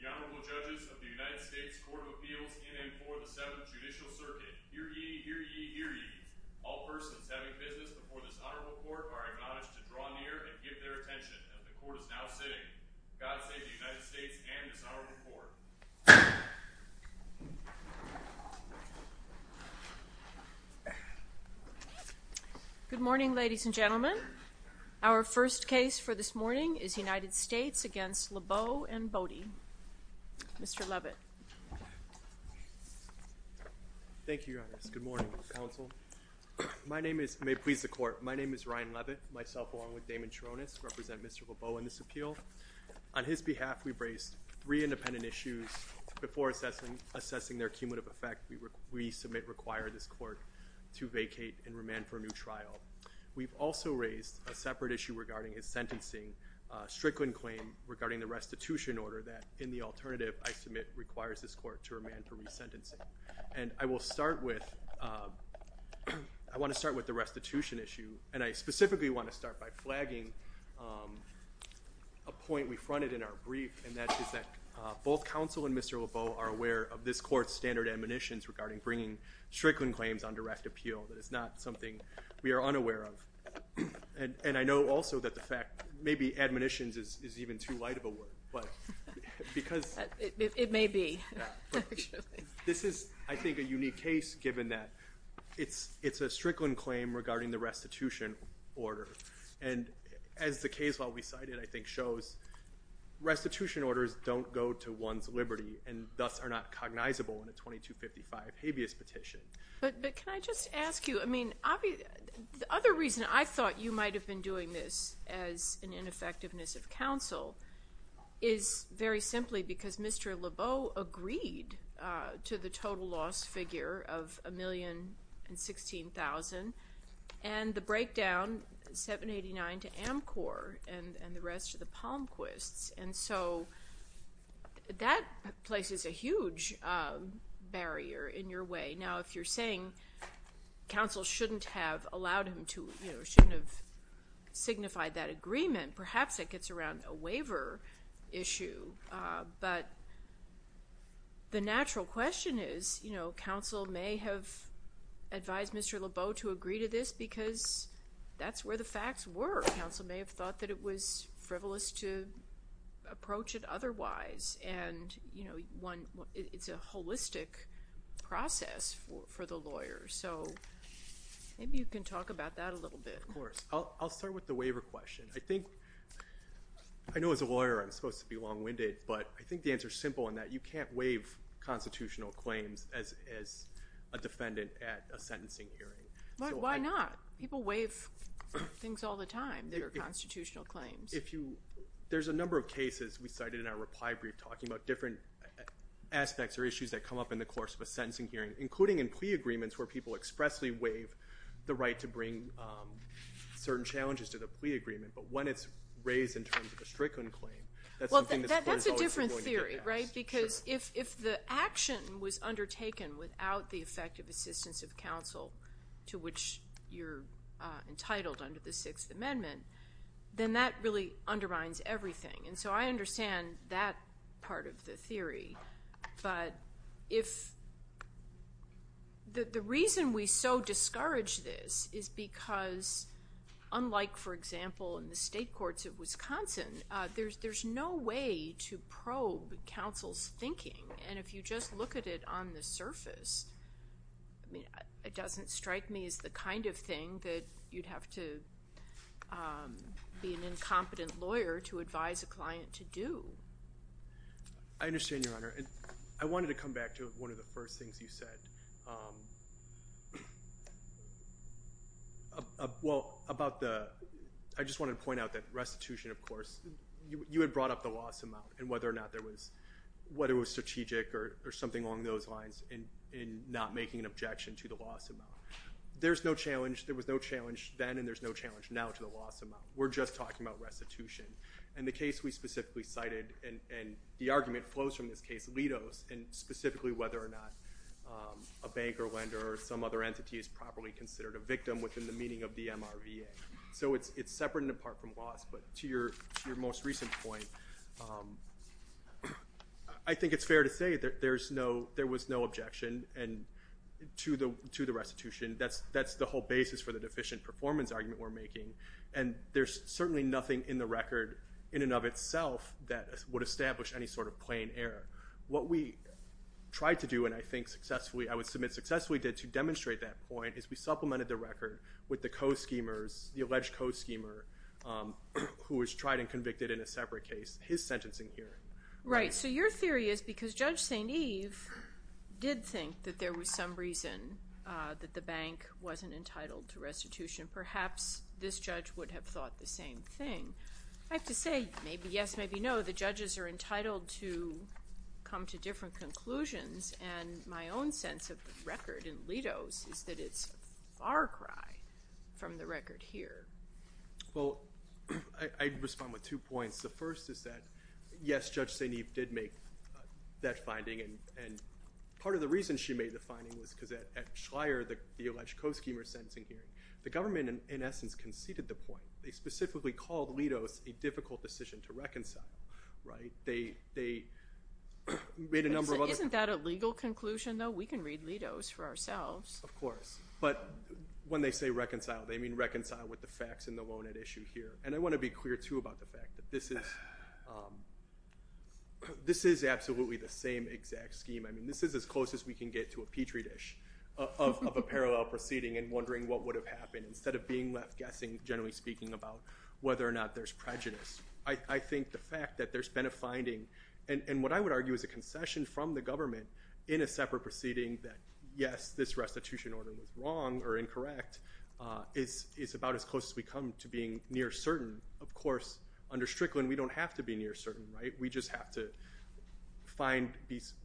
The Honorable Judges of the United States Court of Appeals in and for the 7th Judicial Circuit. Hear ye, hear ye, hear ye. All persons having business before this Honorable Court are acknowledged to draw near and give their attention as the Court is now sitting. God save the United States and this Honorable Court. Good morning, ladies and gentlemen. Our first case for this Good morning, Your Honor. Good morning, Mr. Counsel. My name is – may it please the Court – my name is Ryan Levitt, myself along with Damon Cherones represent Mr. Lebeau in this appeal. On his behalf, we've raised three independent issues before assessing their cumulative effect we submit require this Court to vacate and remand for a new trial. We've also raised a separate issue regarding his sentencing Strickland claim regarding the restitution order that in the alternative, I submit, requires this Court to remand for resentencing. And I will start with – I want to start with the restitution issue, and I specifically want to start by flagging a point we fronted in our brief, and that is that both Counsel and Mr. Lebeau are aware of this Court's standard admonitions regarding bringing Strickland claims on direct appeal. That is not something we are unaware of. And I know also that the fact – maybe admonitions is even too light of a word, but because – It may be. This is, I think, a unique case given that it's a Strickland claim regarding the restitution order. And as the case law we cited I think shows, restitution orders don't go to one's liberty and thus are not cognizable in a 2255 habeas petition. But can I just ask you, I mean, the other reason I thought you might have been doing this as an ineffectiveness of Counsel is very simply because Mr. Lebeau agreed to the total loss figure of $1,016,000 and the breakdown $789,000 to Amcor and the rest of the Palmquists. And so that places a huge barrier in your way. Now, if you're saying Counsel shouldn't have allowed him to – shouldn't have signified that issue. But the natural question is, you know, Counsel may have advised Mr. Lebeau to agree to this because that's where the facts were. Counsel may have thought that it was frivolous to approach it otherwise. And, you know, it's a holistic process for the lawyer. So maybe you can talk about that a little bit. Of course. I'll start with the waiver question. I think – I know as a lawyer I'm supposed to be long-winded. But I think the answer is simple in that you can't waive constitutional claims as a defendant at a sentencing hearing. But why not? People waive things all the time that are constitutional claims. If you – there's a number of cases we cited in our reply brief talking about different aspects or issues that come up in the course of a sentencing hearing, including in plea agreements where people expressly waive the right to bring certain challenges to the plea agreement. But when it's raised in terms of a stricken claim, that's something that the court is always going to get passed. Well, that's a different theory, right? Because if the action was undertaken without the effective assistance of counsel to which you're entitled under the Sixth Amendment, then that really undermines everything. And so I understand that part of the theory. But if – the reason we so for example in the state courts of Wisconsin, there's no way to probe counsel's thinking. And if you just look at it on the surface, I mean, it doesn't strike me as the kind of thing that you'd have to be an incompetent lawyer to advise a client to do. I understand, Your Honor. And I wanted to come back to one of the first things you said. Well, about the – I just wanted to point out that restitution, of course, you had brought up the loss amount and whether or not there was – whether it was strategic or something along those lines in not making an objection to the loss amount. There's no challenge – there was no challenge then and there's no challenge now to the loss amount. We're just talking about restitution. And the case we specifically cited – and the argument flows from this case – Litos and specifically whether or not a bank or lender or some other entity is properly considered a victim within the meaning of the MRVA. So it's separate and apart from loss. But to your most recent point, I think it's fair to say that there's no – there was no objection to the restitution. That's the whole basis for the deficient performance argument we're making. And there's certainly nothing in the record in and of itself that would establish any sort error. What we tried to do and I think successfully – I would submit successfully did to demonstrate that point is we supplemented the record with the co-schemers – the alleged co-schemer who was tried and convicted in a separate case, his sentencing here. Right. So your theory is because Judge St. Eve did think that there was some reason that the bank wasn't entitled to restitution, perhaps this judge would have thought the same thing. I have to say maybe yes, maybe no. The judges are entitled to come to different conclusions. And my own sense of the record in Litos is that it's a far cry from the record here. Well, I'd respond with two points. The first is that, yes, Judge St. Eve did make that finding. And part of the reason she made the finding was because at Schreyer, the alleged co-schemer sentencing hearing, the government in essence conceded the point. They specifically called Litos a difficult decision to reconcile, right? They made a number of other – Isn't that a legal conclusion though? We can read Litos for ourselves. Of course. But when they say reconcile, they mean reconcile with the facts in the loan-ed issue here. And I want to be clear too about the fact that this is absolutely the same exact scheme. I mean, this is as close as we can get to a Petri dish of a parallel proceeding and wondering what would have happened instead of being left guessing, generally speaking, about whether or not there's prejudice. I think the fact that there's been a finding – and what I would argue is a concession from the government in a separate proceeding that, yes, this restitution order was wrong or incorrect is about as close as we come to being near certain. Of course, under Strickland, we don't have to be near certain, right? We just have to find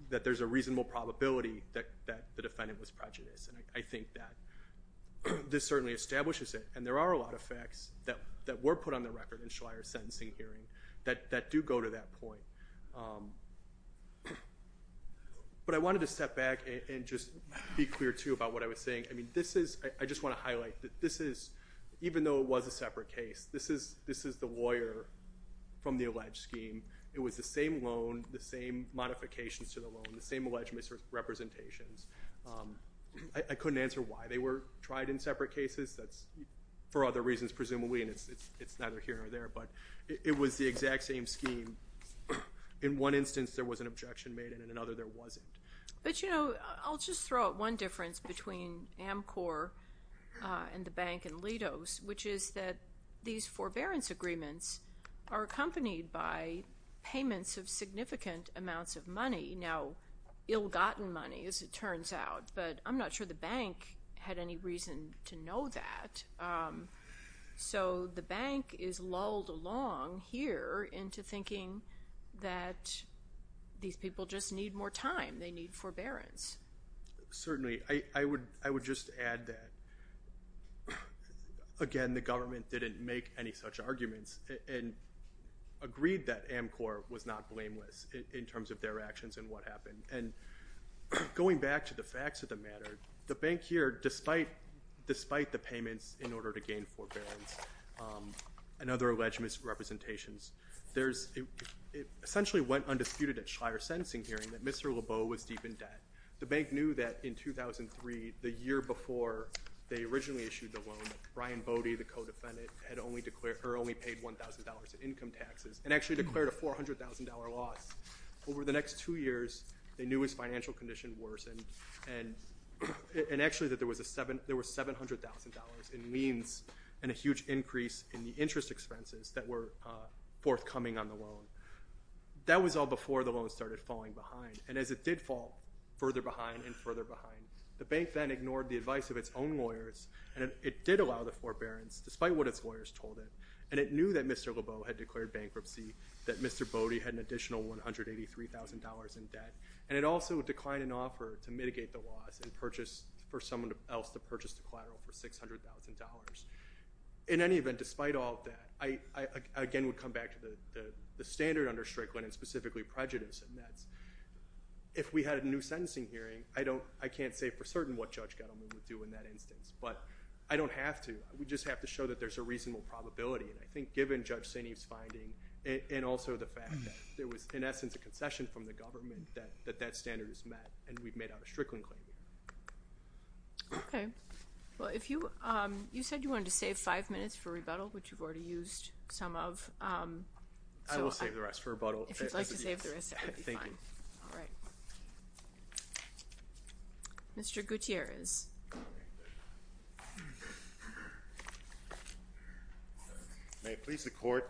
that there's a reasonable probability that the defendant was prejudiced. And I think that this certainly establishes it. And there are a lot of facts that were put on the record in Schleyer's sentencing hearing that do go to that point. But I wanted to step back and just be clear too about what I was saying. I mean, this is – I just want to highlight that this is – even though it was a separate case, this is the lawyer from the alleged scheme. It was the same loan, the same modifications to the loan, the same alleged misrepresentations. I couldn't answer why they were tried in separate cases. That's for other reasons, presumably, and it's neither here or there. But it was the exact same scheme. In one instance, there was an objection made, and in another, there wasn't. But, you know, I'll just throw out one difference between Amcor and the bank and Litos, which is that these forbearance agreements are accompanied by payments of significant amounts of money. Now, ill-gotten money, as it turns out. But I'm not sure the bank had any reason to know that. So the bank is lulled along here into thinking that these people just need more time. They need forbearance. Certainly. I would just add that, again, the government didn't make any such arguments and agreed that Amcor was not blameless in terms of their actions and what happened. And going back to the facts of the matter, the bank here, despite the payments in order to gain forbearance and other alleged misrepresentations, essentially went undisputed at Schleyer's sentencing hearing that Mr. Lebeau was deep in debt. The bank knew that in 2003, the year before they originally issued the loan, Brian Bodie, the co-defendant, had only paid $1,000 in income taxes and actually declared a $400,000 loss. Over the next two years, they knew his financial condition worsened and actually that there was $700,000 in liens and a huge increase in the interest expenses that were forthcoming on the loan. That was all before the loan started falling behind. And as it did fall further behind and further behind, the bank then ignored the advice of its own lawyers and it did allow the forbearance, despite what its lawyers told it, and it knew that Mr. Lebeau had declared bankruptcy, that Mr. Bodie had an additional $183,000 in debt, and it also declined an offer to mitigate the loss and purchased for someone else to purchase the collateral for $600,000. In any event, despite all of that, I again would come back to the standard under Strickland and specifically prejudice and that's if we had a new sentencing hearing, I can't say for certain what Judge Gettleman would do in that instance, but I don't have to. We just have to show that there's a reasonable probability. And I think given Judge Sineve's finding and also the fact that there was, in essence, a concession from the government that that standard is met and we've made out a Strickland claim. Okay. Well, you said you wanted to save five minutes for rebuttal, which you've already used some of. I will save the rest for you. Mr. Gutierrez. May it please the Court.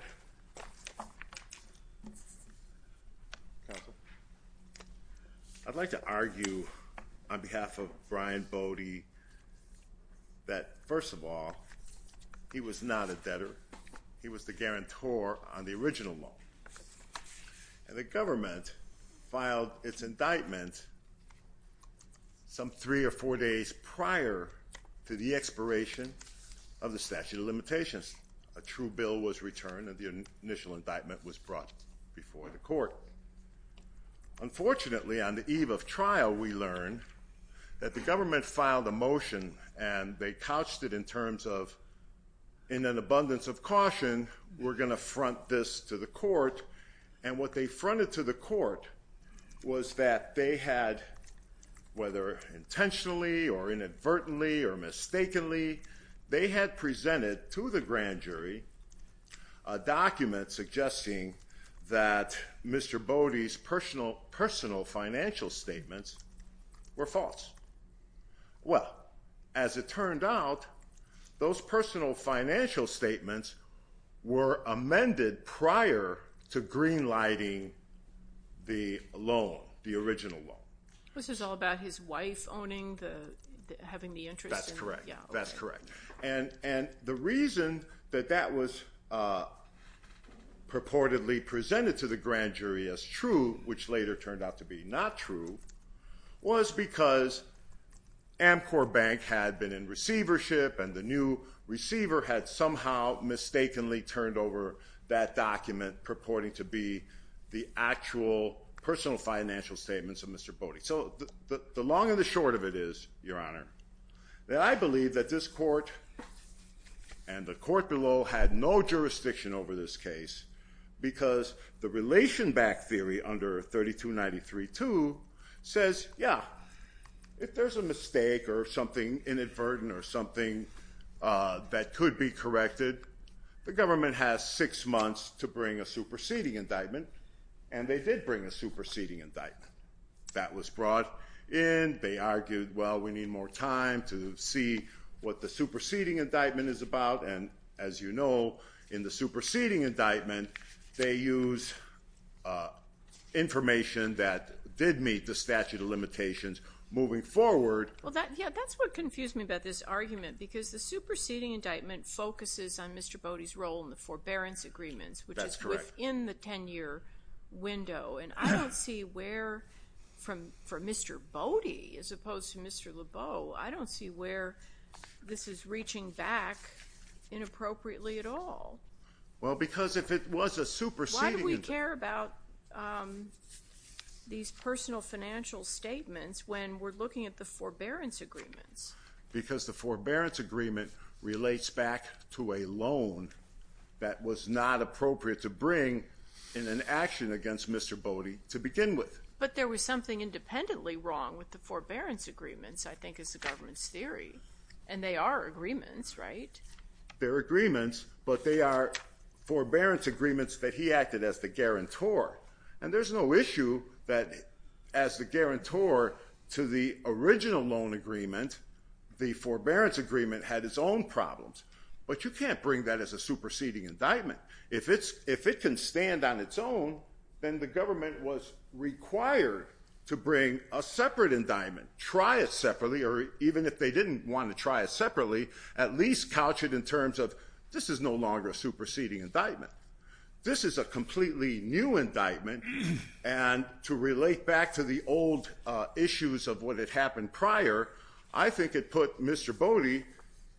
I'd like to argue on behalf of Brian Bodie that, first of all, he was not a debtor. He was the some three or four days prior to the expiration of the statute of limitations. A true bill was returned and the initial indictment was brought before the Court. Unfortunately, on the eve of trial, we learned that the government filed a motion and they couched it in terms of, in an abundance of caution, we're going to front this to the Court. And what they fronted to the whether intentionally or inadvertently or mistakenly, they had presented to the grand jury a document suggesting that Mr. Bodie's personal financial statements were false. Well, as it turned out, those personal financial statements were amended prior to green lighting the loan, the original loan. This is all about his wife owning the, having the interest. That's correct. That's correct. And the reason that that was purportedly presented to the grand jury as true, which later turned out to be not true, was because Amcor Bank had been in receivership and the new receiver had somehow mistakenly turned over that document purporting to be the actual personal financial statements of Mr. Bodie. So the long and the short of it is, Your Honor, that I believe that this Court and the Court below had no jurisdiction over this case because the relation back theory under 3293-2 says, yeah, if there's a mistake or something inadvertent or something that could be corrected, the government has six months to bring a superseding indictment. And they did bring a superseding indictment. That was brought in. They argued, well, we need more time to see what the superseding indictment is about. And as you know, in the superseding indictment, they use information that did meet the statute of limitations moving forward. Well, yeah, that's what confused me about this argument because the superseding indictment focuses on Mr. Bodie's role in the forbearance agreements, which is within the 10-year window. And I don't see where, for Mr. Bodie as opposed to Mr. Lebeau, I don't see where this is reaching back inappropriately at all. Well, because if it was a superseding— Why do we care about these personal financial statements when we're looking at the forbearance agreements? Because the forbearance agreement relates back to a loan that was not appropriate to bring in an action against Mr. Bodie to begin with. But there was something independently wrong with the forbearance agreements, I think, is the government's theory. And they are agreements, right? They're agreements, but they are forbearance agreements that he acted as the guarantor. And there's no issue that, as the guarantor to the original loan agreement, the forbearance agreement had its own problems. But you can't bring that as a superseding indictment. If it can stand on its own, then the government was required to bring a separate indictment, try it separately, or even if they didn't want to try it separately, at least couch it in terms of, this is no longer a superseding indictment. This is a completely new indictment. And to relate back to the old issues of what had happened prior, I think it put Mr. Bodie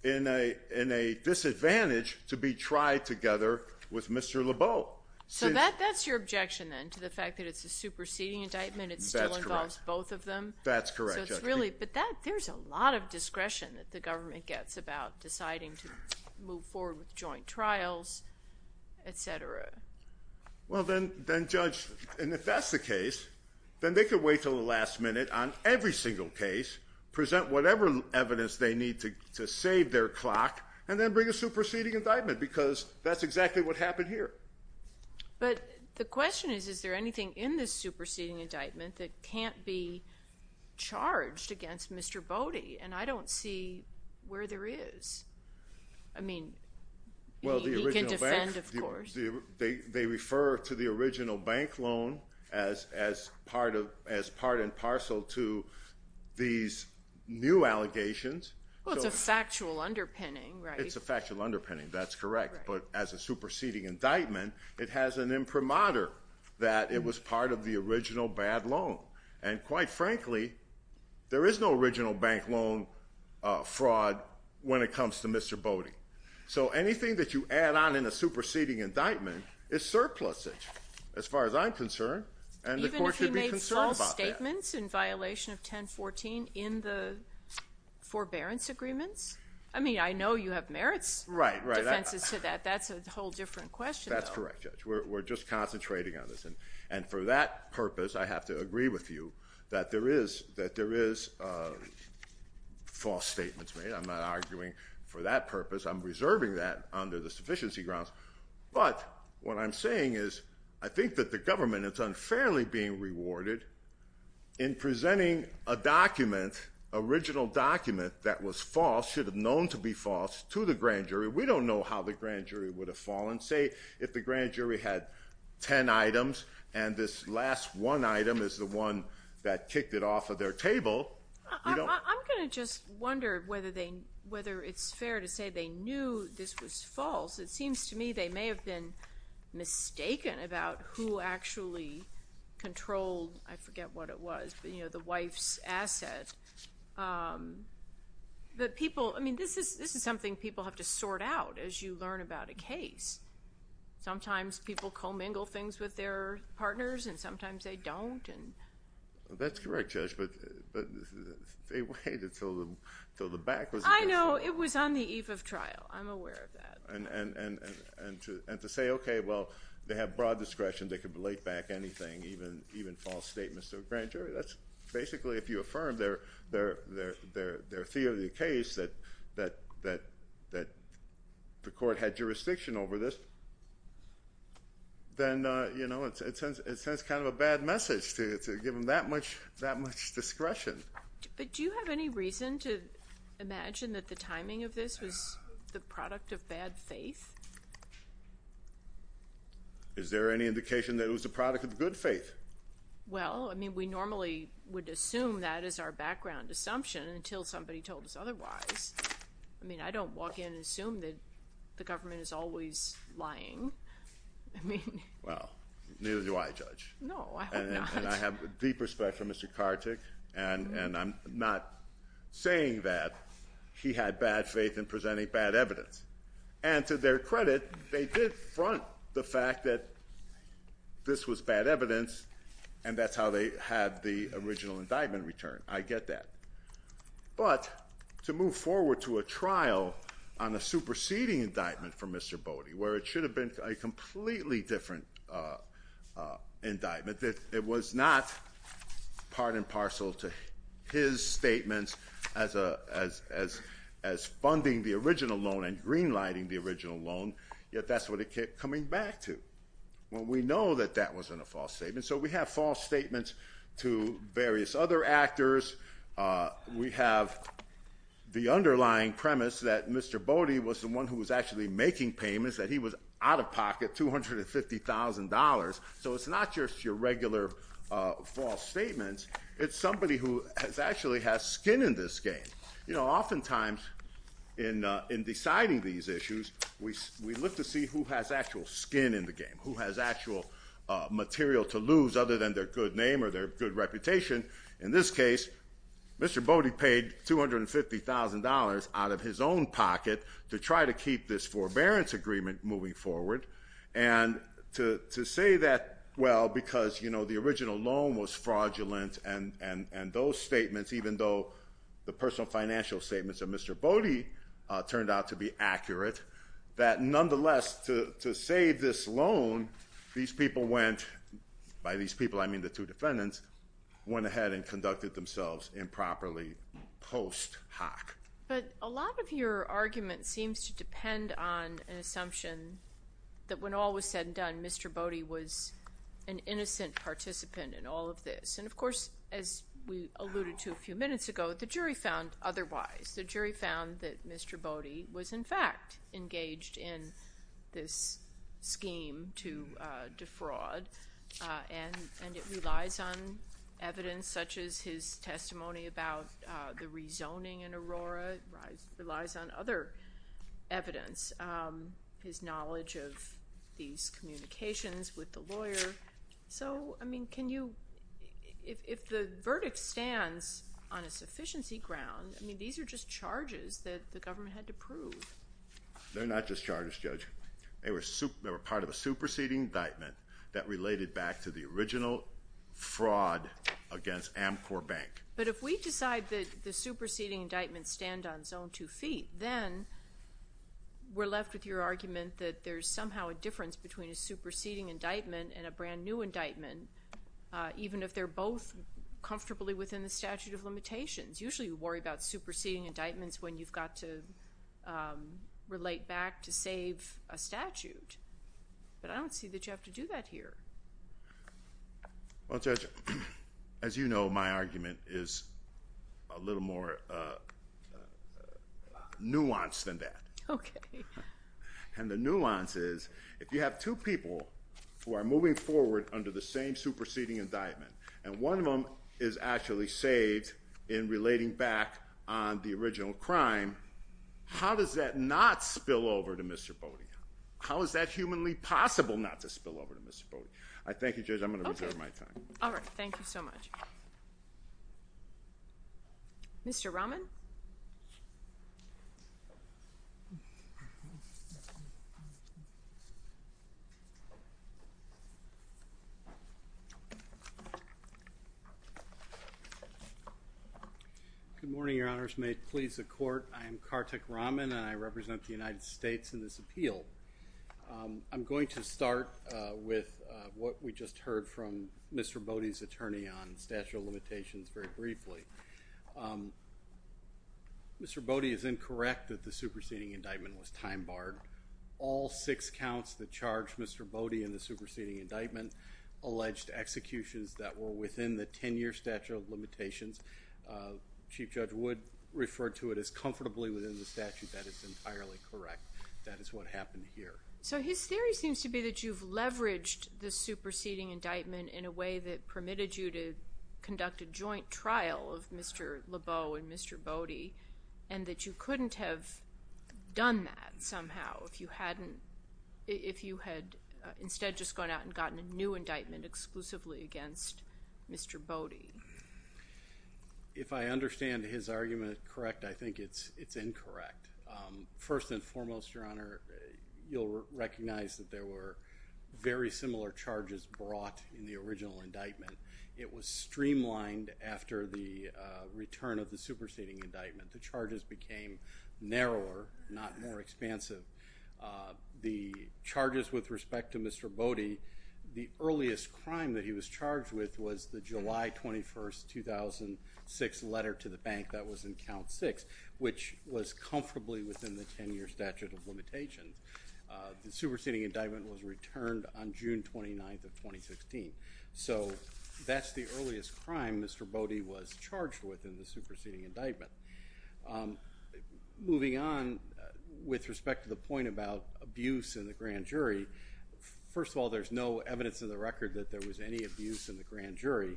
in a disadvantage to be tried together with Mr. Lebeau. So that's your objection, then, to the fact that it's a superseding indictment, it still involves both of them? That's correct. So it's really—but there's a lot of discretion that the government gets about deciding to move forward with joint trials, et cetera. Well, then, Judge, and if that's the case, then they could wait until the last minute on every single case, present whatever evidence they need to save their clock, and then bring a superseding indictment, because that's exactly what happened here. But the question is, is there anything in this superseding indictment that can't be charged against Mr. Bodie? And I don't see where there is. I mean, he can defend, of course. They refer to the original bank loan as part and parcel to these new allegations. Well, it's a factual underpinning, right? It's a factual underpinning, that's correct. But as a superseding indictment, it has an imprimatur that it was part of the original bad loan. And quite frankly, there is no original bank loan fraud when it comes to Mr. Bodie. So anything that you add on in a superseding indictment is surplusage, as far as I'm concerned, and the court should be concerned about that. Even if he made false statements in violation of 1014 in the forbearance agreements? I mean, I know you have merits defenses to that. That's a whole different question, though. That's correct, Judge. We're just concentrating on this. And for that purpose, I have to agree with you that there is false statements made. I'm not arguing for that purpose. I'm reserving that under the sufficiency grounds. But what I'm saying is I think that the government is unfairly being rewarded in presenting a document, original document that was false, should have known to be false, to the grand jury. We don't know how the grand jury would have fallen. Say, if the grand jury had 10 items, and this last one item is the one that kicked it off of their table, we don't- I'm going to just wonder whether it's fair to say they knew this was false. It seems to me they may have been mistaken about who actually controlled, I forget what it was, but the wife's asset. But people, I mean, this is something people have to sort out as you learn about a case. Sometimes people co-mingle things with their partners, and sometimes they don't. That's correct, Judge, but they waited until the back was- I know. It was on the eve of trial. I'm aware of that. And to say, okay, well, they have broad discretion. They can relate back anything, even false statements to a grand jury. That's basically, if you affirm their theory of the case, that the court had jurisdiction over this, then it sends kind of a bad message to give them that much discretion. But do you have any reason to imagine that the timing of this was the product of bad faith? Is there any indication that it was the product of good faith? Well, I mean, we normally would assume that as our background assumption until somebody told us otherwise. I mean, I don't walk in and assume that the government is always lying. I mean- Well, neither do I, Judge. No, I hope not. And I have deep respect for Mr. Kartick, and I'm not saying that he had bad faith in presenting bad evidence. And to their credit, they did front the fact that this was bad evidence, and that's how they had the original indictment returned. I get that. But to move forward to a trial on a superseding indictment for Mr. Bode, where it should have been a completely different indictment, that it was not part and parcel to his statements as funding the original loan and greenlighting the original loan, yet that's what it kept coming back to. Well, we know that that wasn't a false statement. So we have false statements to various other actors. We have the underlying premise that Mr. Bode was the one who was actually making payments, that he was out-of-pocket $250,000. So it's not just your regular false statements. It's somebody who actually has skin in this game. You know, oftentimes in deciding these issues, we look to see who has actual skin in the game, who has actual material to lose other than their good name or their good reputation. In this case, Mr. Bode paid $250,000 out of his own pocket to try to keep this forbearance agreement moving forward. And to say that, well, because the original loan was fraudulent and those statements, even though the personal financial statements of Mr. Bode turned out to be accurate, that nonetheless, to save this loan, these people went—by these people, I mean the two defendants—went ahead and conducted themselves improperly post hoc. But a lot of your argument seems to depend on an assumption that when all was said and done, Mr. Bode was an innocent participant in all of this. And of course, as we alluded to a few minutes ago, the jury found otherwise. The jury found that Mr. Bode was, in fact, engaged in this scheme to defraud and it relies on evidence such as his testimony about the rezoning in Aurora. It relies on other evidence, his knowledge of these communications with the lawyer. So, I mean, can you—if the verdict stands on a sufficiency ground, I mean, these are just charges that the government had to prove. They're not just charges, Judge. They were part of a superseding indictment that related back to the original fraud against Amcor Bank. But if we decide that the superseding indictments stand on zone 2 feet, then we're left with your argument that there's somehow a difference between a superseding indictment and a brand-new indictment, even if they're both comfortably within the statute of limitations. Usually, you worry about superseding indictments when you've got to relate back to save a statute, but I don't see that you have to do that here. Well, Judge, as you know, my argument is a little more nuanced than that. Okay. And the nuance is, if you have two people who are moving forward under the same superseding indictment and one of them is actually saved in relating back on the original crime, how does that not spill over to Mr. Bode? How is that humanly possible not to spill over to Mr. Bode? Thank you, Judge. I'm going to reserve my time. All right. Thank you so much. Mr. Rahman? Good morning, Your Honors. May it please the Court, I am Karthik Rahman and I represent the United States in this appeal. I'm going to start with what we just heard from Mr. Bode's very briefly. Mr. Bode is incorrect that the superseding indictment was time-barred. All six counts that charged Mr. Bode in the superseding indictment alleged executions that were within the 10-year statute of limitations. Chief Judge Wood referred to it as comfortably within the statute. That is entirely correct. That is what happened here. So his theory seems to be that you've leveraged the superseding indictment in a way that permitted you to conduct a joint trial of Mr. Lebeau and Mr. Bode and that you couldn't have done that somehow if you had instead just gone out and gotten a new indictment exclusively against Mr. Bode. If I understand his argument correct, I think it's incorrect. First and foremost, Your Honor, you'll recognize that there were very similar charges brought in the original indictment. It was streamlined after the return of the superseding indictment. The charges became narrower, not more expansive. The charges with respect to Mr. Bode, the earliest crime that he was charged with was the July 21, 2006 letter to the bank that was in count six, which was comfortably within the 10-year statute of limitations. The superseding indictment was returned on June 29, 2016. So that's the earliest crime Mr. Bode was charged with in the superseding indictment. Moving on with respect to the point about abuse in the grand jury, first of all, there's no evidence in the record that there was any abuse in the grand jury.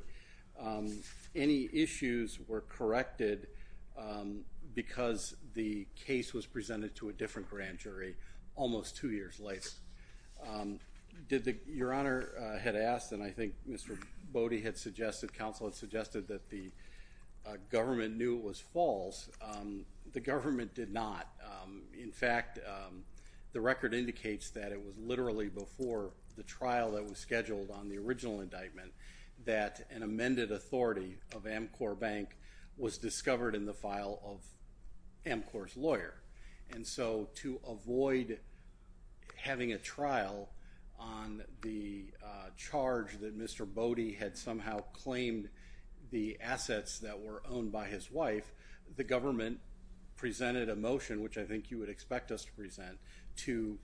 Any issues were corrected because the case was presented to a different grand jury almost two years later. Your Honor had asked, and I think Mr. Bode had suggested, counsel had suggested that the government knew it was false. The government did not. In fact, the record indicates that it was literally before the trial that was scheduled on the original indictment that an amended authority of Amcor Bank was discovered in the file of Amcor's lawyer. And so to avoid having a trial on the charge that Mr. Bode had somehow claimed the assets that were owned by his wife, the government presented a motion, which I think you would expect us to present, to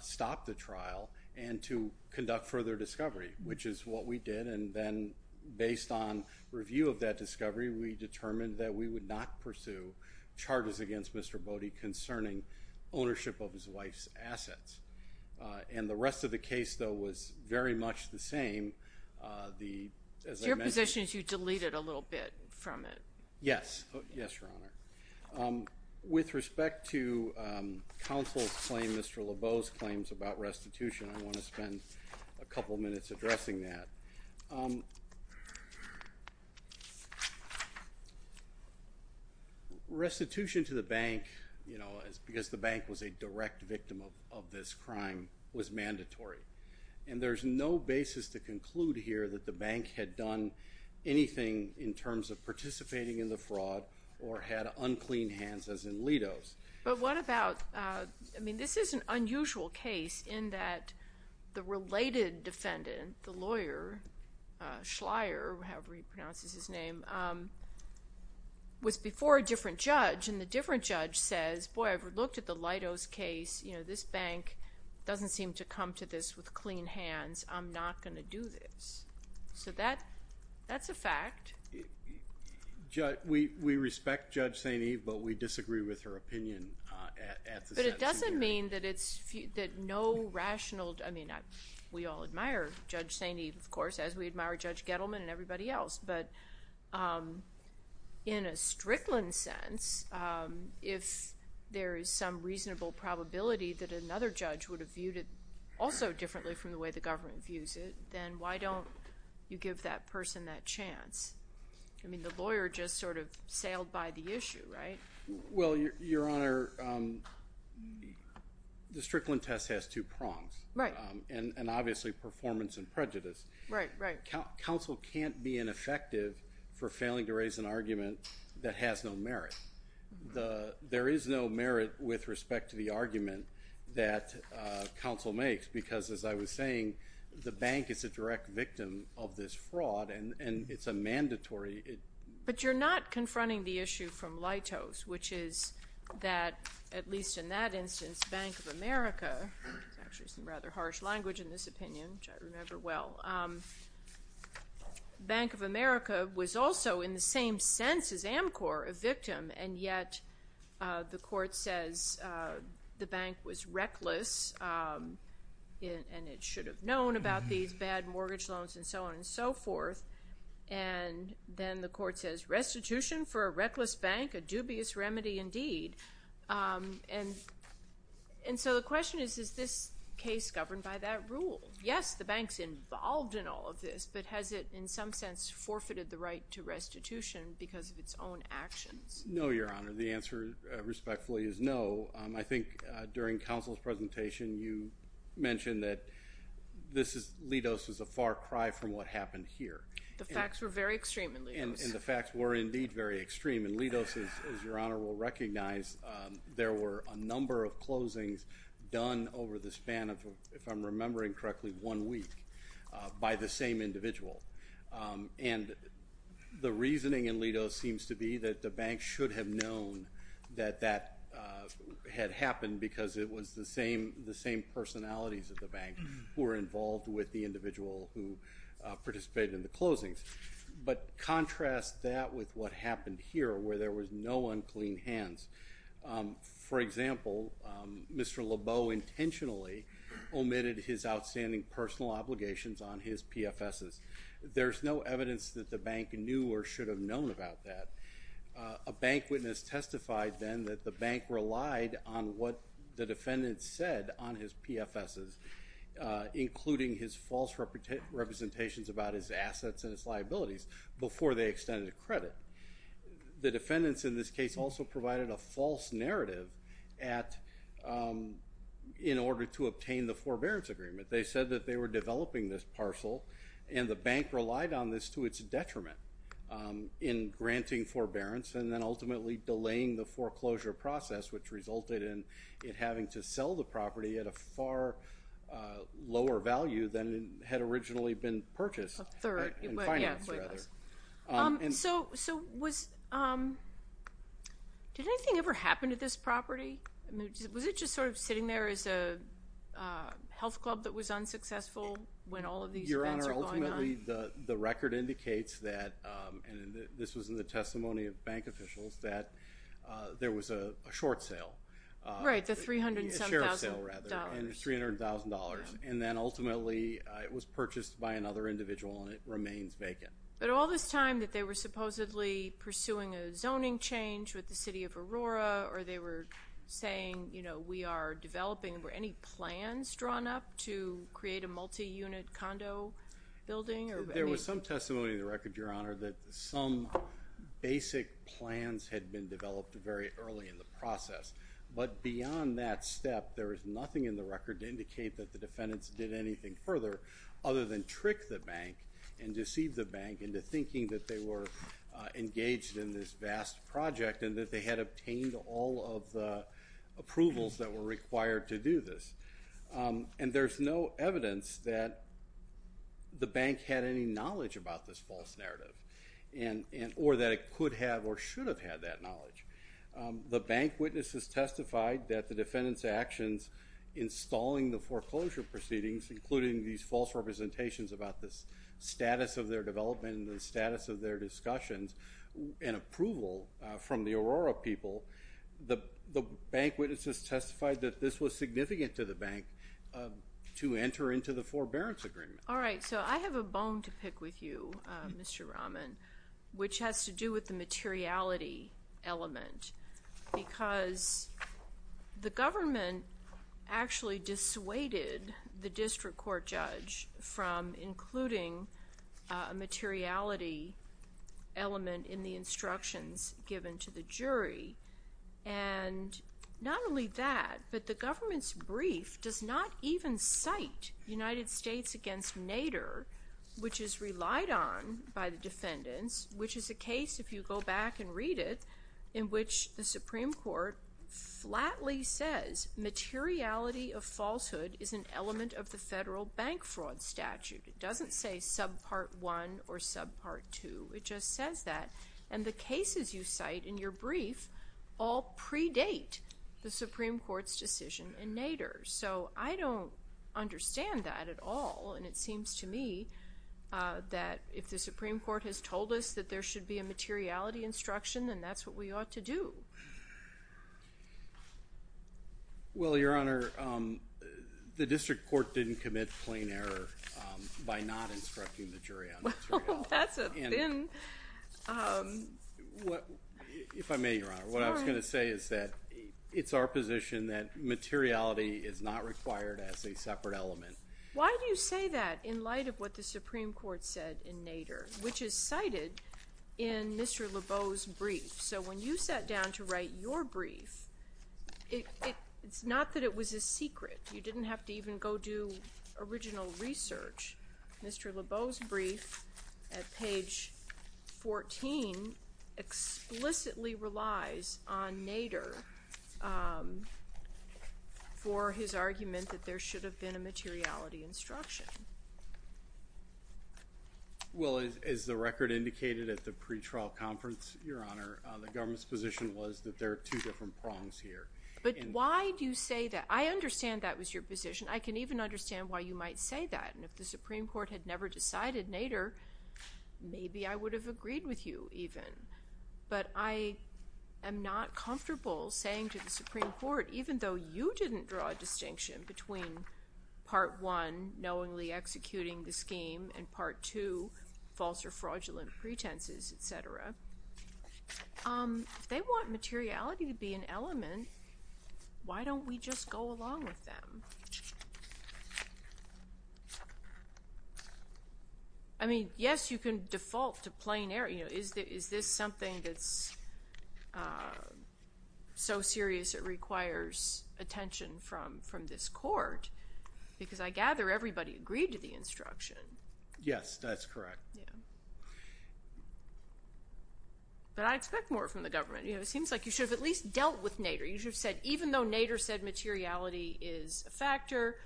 stop the trial and to conduct further discovery, which is what we did. And then based on review of that discovery, we determined that we would not pursue charges against Mr. Bode concerning ownership of his wife's assets. And the rest of the case, though, was very much the same. As I mentioned... Your position is you deleted a little bit from it. Yes. Yes, Your Honor. With respect to counsel's claim, Mr. Lebeau's claims about restitution, I want to spend a couple minutes addressing that. Restitution to the bank, you know, because the bank was a direct victim of this crime, was mandatory. And there's no basis to conclude here that the bank had done anything in terms of participating in the fraud or had unclean hands, as in Lido's. But what about... I mean, this is an unusual case in that the related defendant, the lawyer, Schleyer, however he pronounces his name, was before a different judge. And the different judge says, boy, I've looked at the Lido's case. You know, this bank doesn't seem to come to this with clean hands. I'm not going to do this. So that's a fact. We respect Judge St. Eve, but we disagree with her opinion at the sentencing hearing. But it doesn't mean that no rational... I mean, we all admire Judge St. Eve, of course, as we admire Judge Gettleman and everybody else. But in a Strickland sense, if there is some from the way the government views it, then why don't you give that person that chance? I mean, the lawyer just sort of sailed by the issue, right? Well, Your Honor, the Strickland test has two prongs. Right. And obviously performance and prejudice. Right, right. Counsel can't be ineffective for failing to raise an argument that has no merit. There is no merit with respect to the argument that counsel makes. Because as I was saying, the bank is a direct victim of this fraud, and it's a mandatory... But you're not confronting the issue from Lido's, which is that, at least in that instance, Bank of America, which is actually some rather harsh language in this opinion, which I remember the bank was reckless, and it should have known about these bad mortgage loans and so on and so forth. And then the court says restitution for a reckless bank, a dubious remedy indeed. And so the question is, is this case governed by that rule? Yes, the bank's involved in all of this, but has it in some sense forfeited the right to restitution because of its own actions? No, Your Honor. The answer respectfully is no. I think during counsel's presentation, you mentioned that Lido's was a far cry from what happened here. The facts were very extreme in Lido's. And the facts were indeed very extreme. And Lido's, as Your Honor will recognize, there were a number of closings done over the span of, if I'm remembering correctly, one week by the same individual. And the reasoning in Lido's seems to be that the bank should have known that that had happened because it was the same personalities of the bank who were involved with the individual who participated in the closings. But contrast that with what happened here, where there was no unclean hands. For example, Mr. Lebeau intentionally omitted his outstanding personal obligations on his PFSs. There's no evidence that the bank knew or should have known about that. A bank witness testified then that the bank relied on what the defendant said on his PFSs, including his false representations about his assets and his liabilities, before they extended credit. The defendants in this case also provided a false narrative at, in order to obtain the forbearance agreement. They said that they were developing this parcel and the bank relied on this to its detriment in granting forbearance and then ultimately delaying the foreclosure process, which resulted in it having to sell the property at a far lower value than it had originally been purchased. Third. So, did anything ever happen to this property? Was it just sort of sitting there as a health club that was unsuccessful when all of these events were going on? Your Honor, ultimately the record indicates that, and this was in the testimony of bank officials, that there was a short sale. Right, the $307,000. A share of sale, rather, and $300,000. And then it remains vacant. But all this time that they were supposedly pursuing a zoning change with the City of Aurora, or they were saying, you know, we are developing, were any plans drawn up to create a multi-unit condo building? There was some testimony in the record, Your Honor, that some basic plans had been developed very early in the process. But beyond that step, there is nothing in the record to indicate that the defendants did anything further other than deceive the bank into thinking that they were engaged in this vast project and that they had obtained all of the approvals that were required to do this. And there is no evidence that the bank had any knowledge about this false narrative, or that it could have or should have had that knowledge. The bank witnesses testified that the defendants' actions in stalling the foreclosure proceedings, including these false representations about the status of their development and the status of their discussions and approval from the Aurora people, the bank witnesses testified that this was significant to the bank to enter into the forbearance agreement. All right, so I have a bone to pick with you, Mr. Rahman, which has to do with the materiality element. Because the government actually dissuaded the district court judge from including a materiality element in the instructions given to the jury. And not only that, but the government's brief does not even cite United States against Nader, which is relied on by the defendants, which is a case, if you go back and read it, in which the Supreme Court flatly says materiality of falsehood is an element of the federal bank fraud statute. It doesn't say subpart one or subpart two. It just says that. And the cases you cite in your brief all predate the Supreme Court's decision in Nader. So I don't understand that at all. And it seems to me that if the Supreme Court has told us that there should be a materiality instruction, then that's what we ought to do. Well, Your Honor, the district court didn't commit plain error by not instructing the jury on materiality. Well, that's a thin... If I may, Your Honor, what I was going to say is that it's our position that materiality is not required as a separate element. Why do you say that in light of what the Supreme Court said in Mr. Lebeau's brief? So when you sat down to write your brief, it's not that it was a secret. You didn't have to even go do original research. Mr. Lebeau's brief at page 14 explicitly relies on Nader for his argument that there should have been a materiality instruction. Well, as the record indicated at the pre-trial conference, Your Honor, the government's position was that there are two different prongs here. But why do you say that? I understand that was your position. I can even understand why you might say that. And if the Supreme Court had never decided Nader, maybe I would have agreed with you even. But I am not comfortable saying to the Supreme Court, even though you didn't draw a distinction between part one, knowingly or inexplicably executing the scheme, and part two, false or fraudulent pretenses, et cetera. If they want materiality to be an element, why don't we just go along with them? I mean, yes, you can default to plain error. Is this something that's so serious it requires attention from this court? Because I gather everybody agreed to the instruction. Yes, that's correct. But I expect more from the government. It seems like you should have at least dealt with Nader. You should have said, even though Nader said materiality is a factor,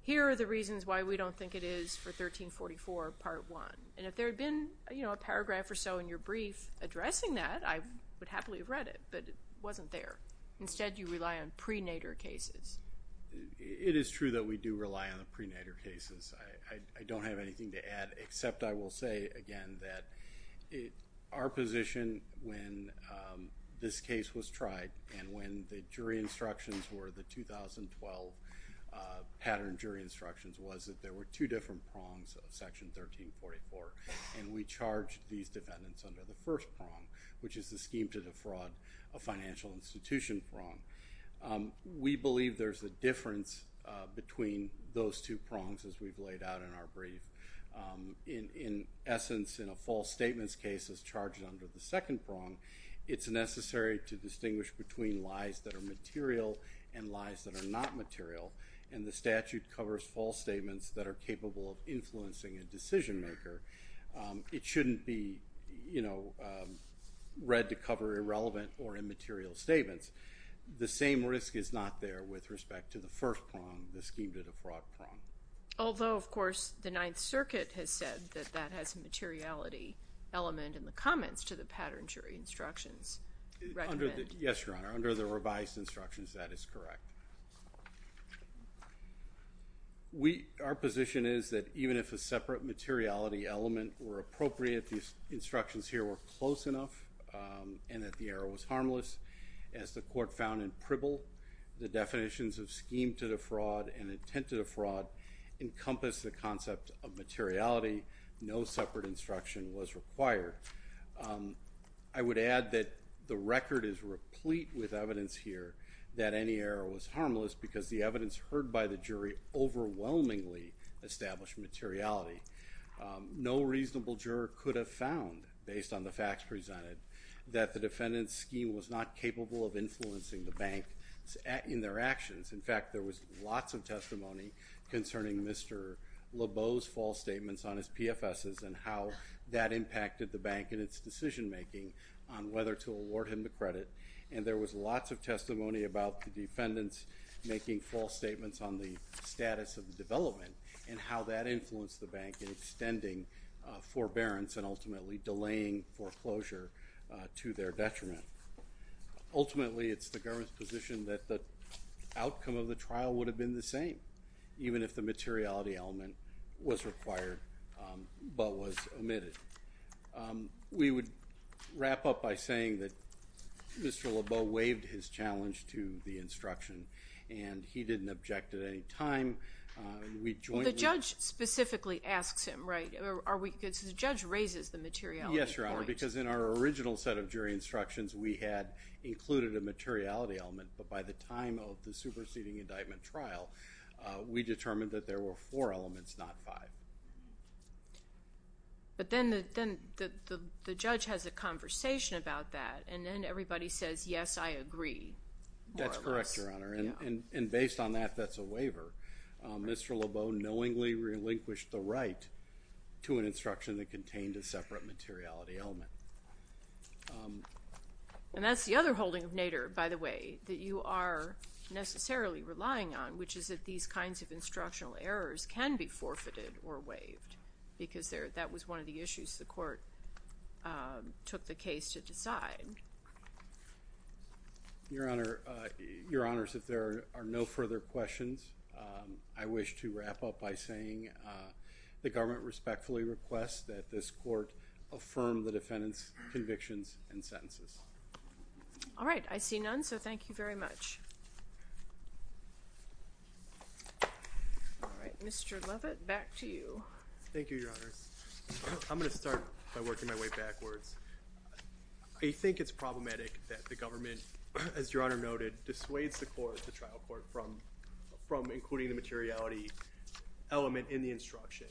here are the reasons why we don't think it is for 1344, part one. And if there had been a paragraph or so in your brief addressing that, I would happily have read it. But it wasn't there. Instead, you rely on pre-Nader cases. It is true that we do rely on the pre-Nader cases. I don't have anything to add, except I will say again that our position when this case was tried and when the jury instructions were the 2012 pattern jury instructions was that there were two different prongs of section 1344. And we charged these defendants under the first prong, which is the scheme to defraud a financial institution prong. We believe there's a difference between those two prongs, as we've laid out in our brief. In essence, in a false statements case that's charged under the second prong, it's necessary to distinguish between lies that are material and lies that are not material. And the statute covers false statements that are capable of influencing a decision maker. It shouldn't be read to cover irrelevant or immaterial statements. The same risk is not there with respect to the first prong, the scheme to defraud prong. Although, of course, the Ninth Circuit has said that that has a materiality element in the comments to the pattern jury instructions. Yes, Your Honor. Under the revised instructions, that is correct. Our position is that even if a separate materiality element were appropriate, these instructions here were close enough and that the error was harmless. As the court found in Pribble, the definitions of scheme to defraud and intent to defraud encompass the concept of materiality. No separate instruction was required. I would add that the record is replete with harmless because the evidence heard by the jury overwhelmingly established materiality. No reasonable juror could have found, based on the facts presented, that the defendant's scheme was not capable of influencing the bank in their actions. In fact, there was lots of testimony concerning Mr. Lebeau's false statements on his PFSs and how that impacted the bank in its decision making on whether to award him the credit. And there was lots of testimony about the defendants making false statements on the status of the development and how that influenced the bank in extending forbearance and ultimately delaying foreclosure to their detriment. Ultimately, it's the government's position that the outcome of the trial would have been the same, even if the materiality element was required but was omitted. We would wrap up by saying that and he didn't object at any time. The judge specifically asks him, right? The judge raises the materiality point. Yes, Your Honor, because in our original set of jury instructions, we had included a materiality element, but by the time of the superseding indictment trial, we determined that there were four elements, not five. But then the judge has a conversation about that and then everybody says, yes, I agree. That's correct, Your Honor, and based on that, that's a waiver. Mr. Lebeau knowingly relinquished the right to an instruction that contained a separate materiality element. And that's the other holding of Nader, by the way, that you are necessarily relying on, which is that these kinds of instructional errors can be forfeited or waived because that was one of the issues the court took the case to decide. Your Honor, Your Honors, if there are no further questions, I wish to wrap up by saying the government respectfully requests that this court affirm the defendant's convictions and sentences. All right, I see none, so thank you very much. All right, Mr. Lovett, back to you. Thank you, Your Honors. I'm going to start by working my way backwards. I think it's problematic that the government, as Your Honor noted, dissuades the trial court from including the materiality element in the instruction.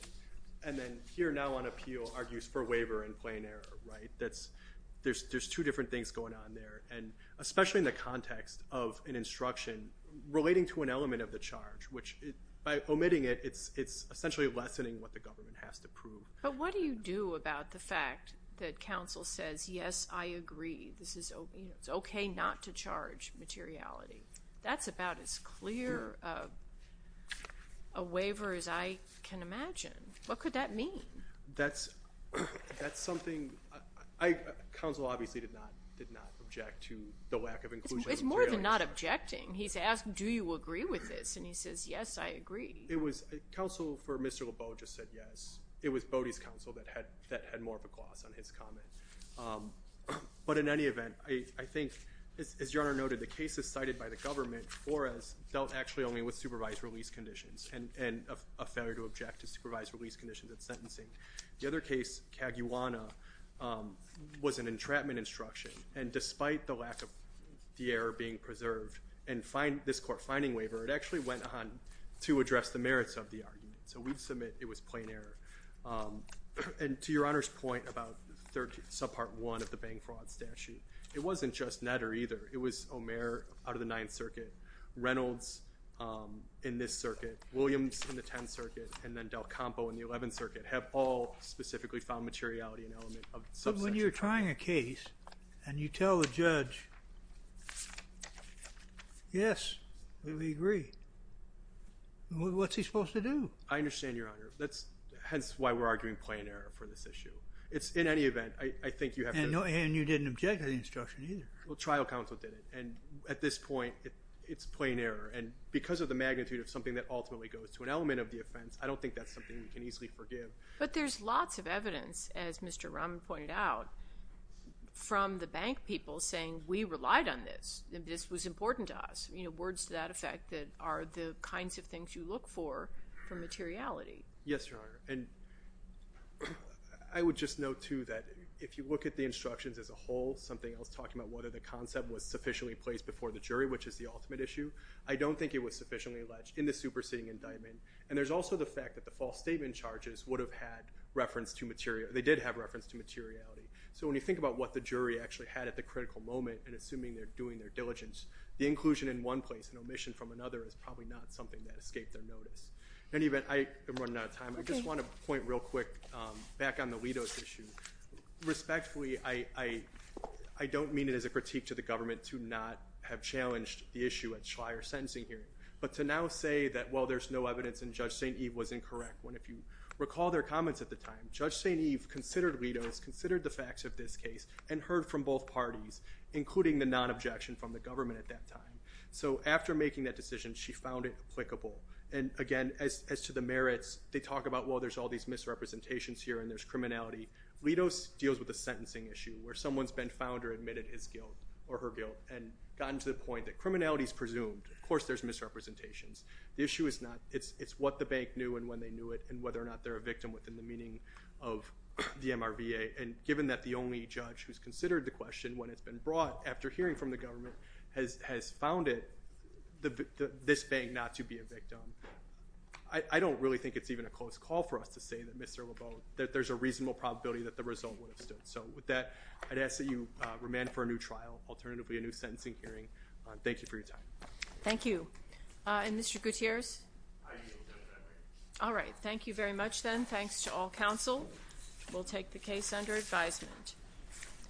And then here now on appeal argues for waiver in plain error, right? There's two different things going on there, and especially in the context of an instruction relating to an element of the charge, which by omitting it, it's essentially lessening what the government has to prove. But what do you do about the fact that counsel says, yes, I agree, this is okay not to charge materiality? That's about as clear a waiver as I can imagine. What could that mean? That's something I, counsel obviously did not object to the lack of inclusion. It's more than not objecting. He's asking, do you agree with this? And he says, yes, I agree. It was counsel for Mr. Lebeau just said yes. It was Bodie's counsel that had more of a gloss on his comment. But in any event, I think, as Your Honor noted, the cases cited by the government for us dealt actually only with supervised release conditions and a failure to object to supervised release conditions at sentencing. The other case, Caguana, was an entrapment instruction. And despite the lack of the error being preserved and this court finding waiver, it actually went on to address the merits of the argument. So we'd submit it was plain error. And to Your Honor's point about subpart one of the bank fraud statute, it wasn't just Netter either. It was Omer out of the Ninth Circuit, Reynolds in this circuit, Williams in the Tenth Circuit, and then Del Campo in the Eleventh Circuit have all specifically found materiality So when you're trying a case and you tell the judge, yes, we agree, what's he supposed to do? I understand, Your Honor. That's hence why we're arguing plain error for this issue. It's in any event, I think you have to. And you didn't object to the instruction either. Well, trial counsel did it. And at this point, it's plain error. And because of the magnitude of something that ultimately goes to an element of the offense, I don't think that's something we can easily forgive. But there's lots of evidence, as Mr. Rahman pointed out, from the bank people saying, we relied on this. This was important to us. Words to that effect that are the kinds of things you look for, for materiality. Yes, Your Honor. And I would just note too that if you look at the instructions as a whole, something else talking about whether the concept was sufficiently placed before the jury, which is the ultimate issue, I don't think it was sufficiently alleged in the superseding indictment. And there's also the fact that the false statement charges would have had reference to materiality. They did have reference to materiality. So when you think about what the jury actually had at the critical moment, and assuming they're doing their diligence, the inclusion in one place and omission from another is probably not something that escaped their notice. In any event, I am running out of time. I just want to point real quick back on the Lido's issue. Respectfully, I don't mean it as a critique to the government to not have challenged the issue at Schleyer's sentencing hearing. But to now say that, well, there's no evidence, and Judge St. Eve was incorrect, when if you recall their comments at the time, Judge St. Eve considered Lido's, considered the facts of this case, and heard from both parties, including the non-objection from the government at that time. So after making that decision, she found it applicable. And again, as to the merits, they talk about, well, there's all these misrepresentations here, and there's criminality. Lido's deals with the sentencing issue, where someone's been found or admitted his guilt The issue is not. It's what the bank knew and when they knew it, and whether or not they're a victim within the meaning of the MRVA. And given that the only judge who's considered the question, when it's been brought, after hearing from the government, has found it, this bank not to be a victim. I don't really think it's even a close call for us to say that Mr. LeBeau, that there's a reasonable probability that the result would have stood. So with that, I'd ask that you remand for a new trial, alternatively a new sentencing hearing. Thank you for your time. Thank you. And Mr. Gutierrez? All right. Thank you very much then. Thanks to all counsel. We'll take the case under advisement.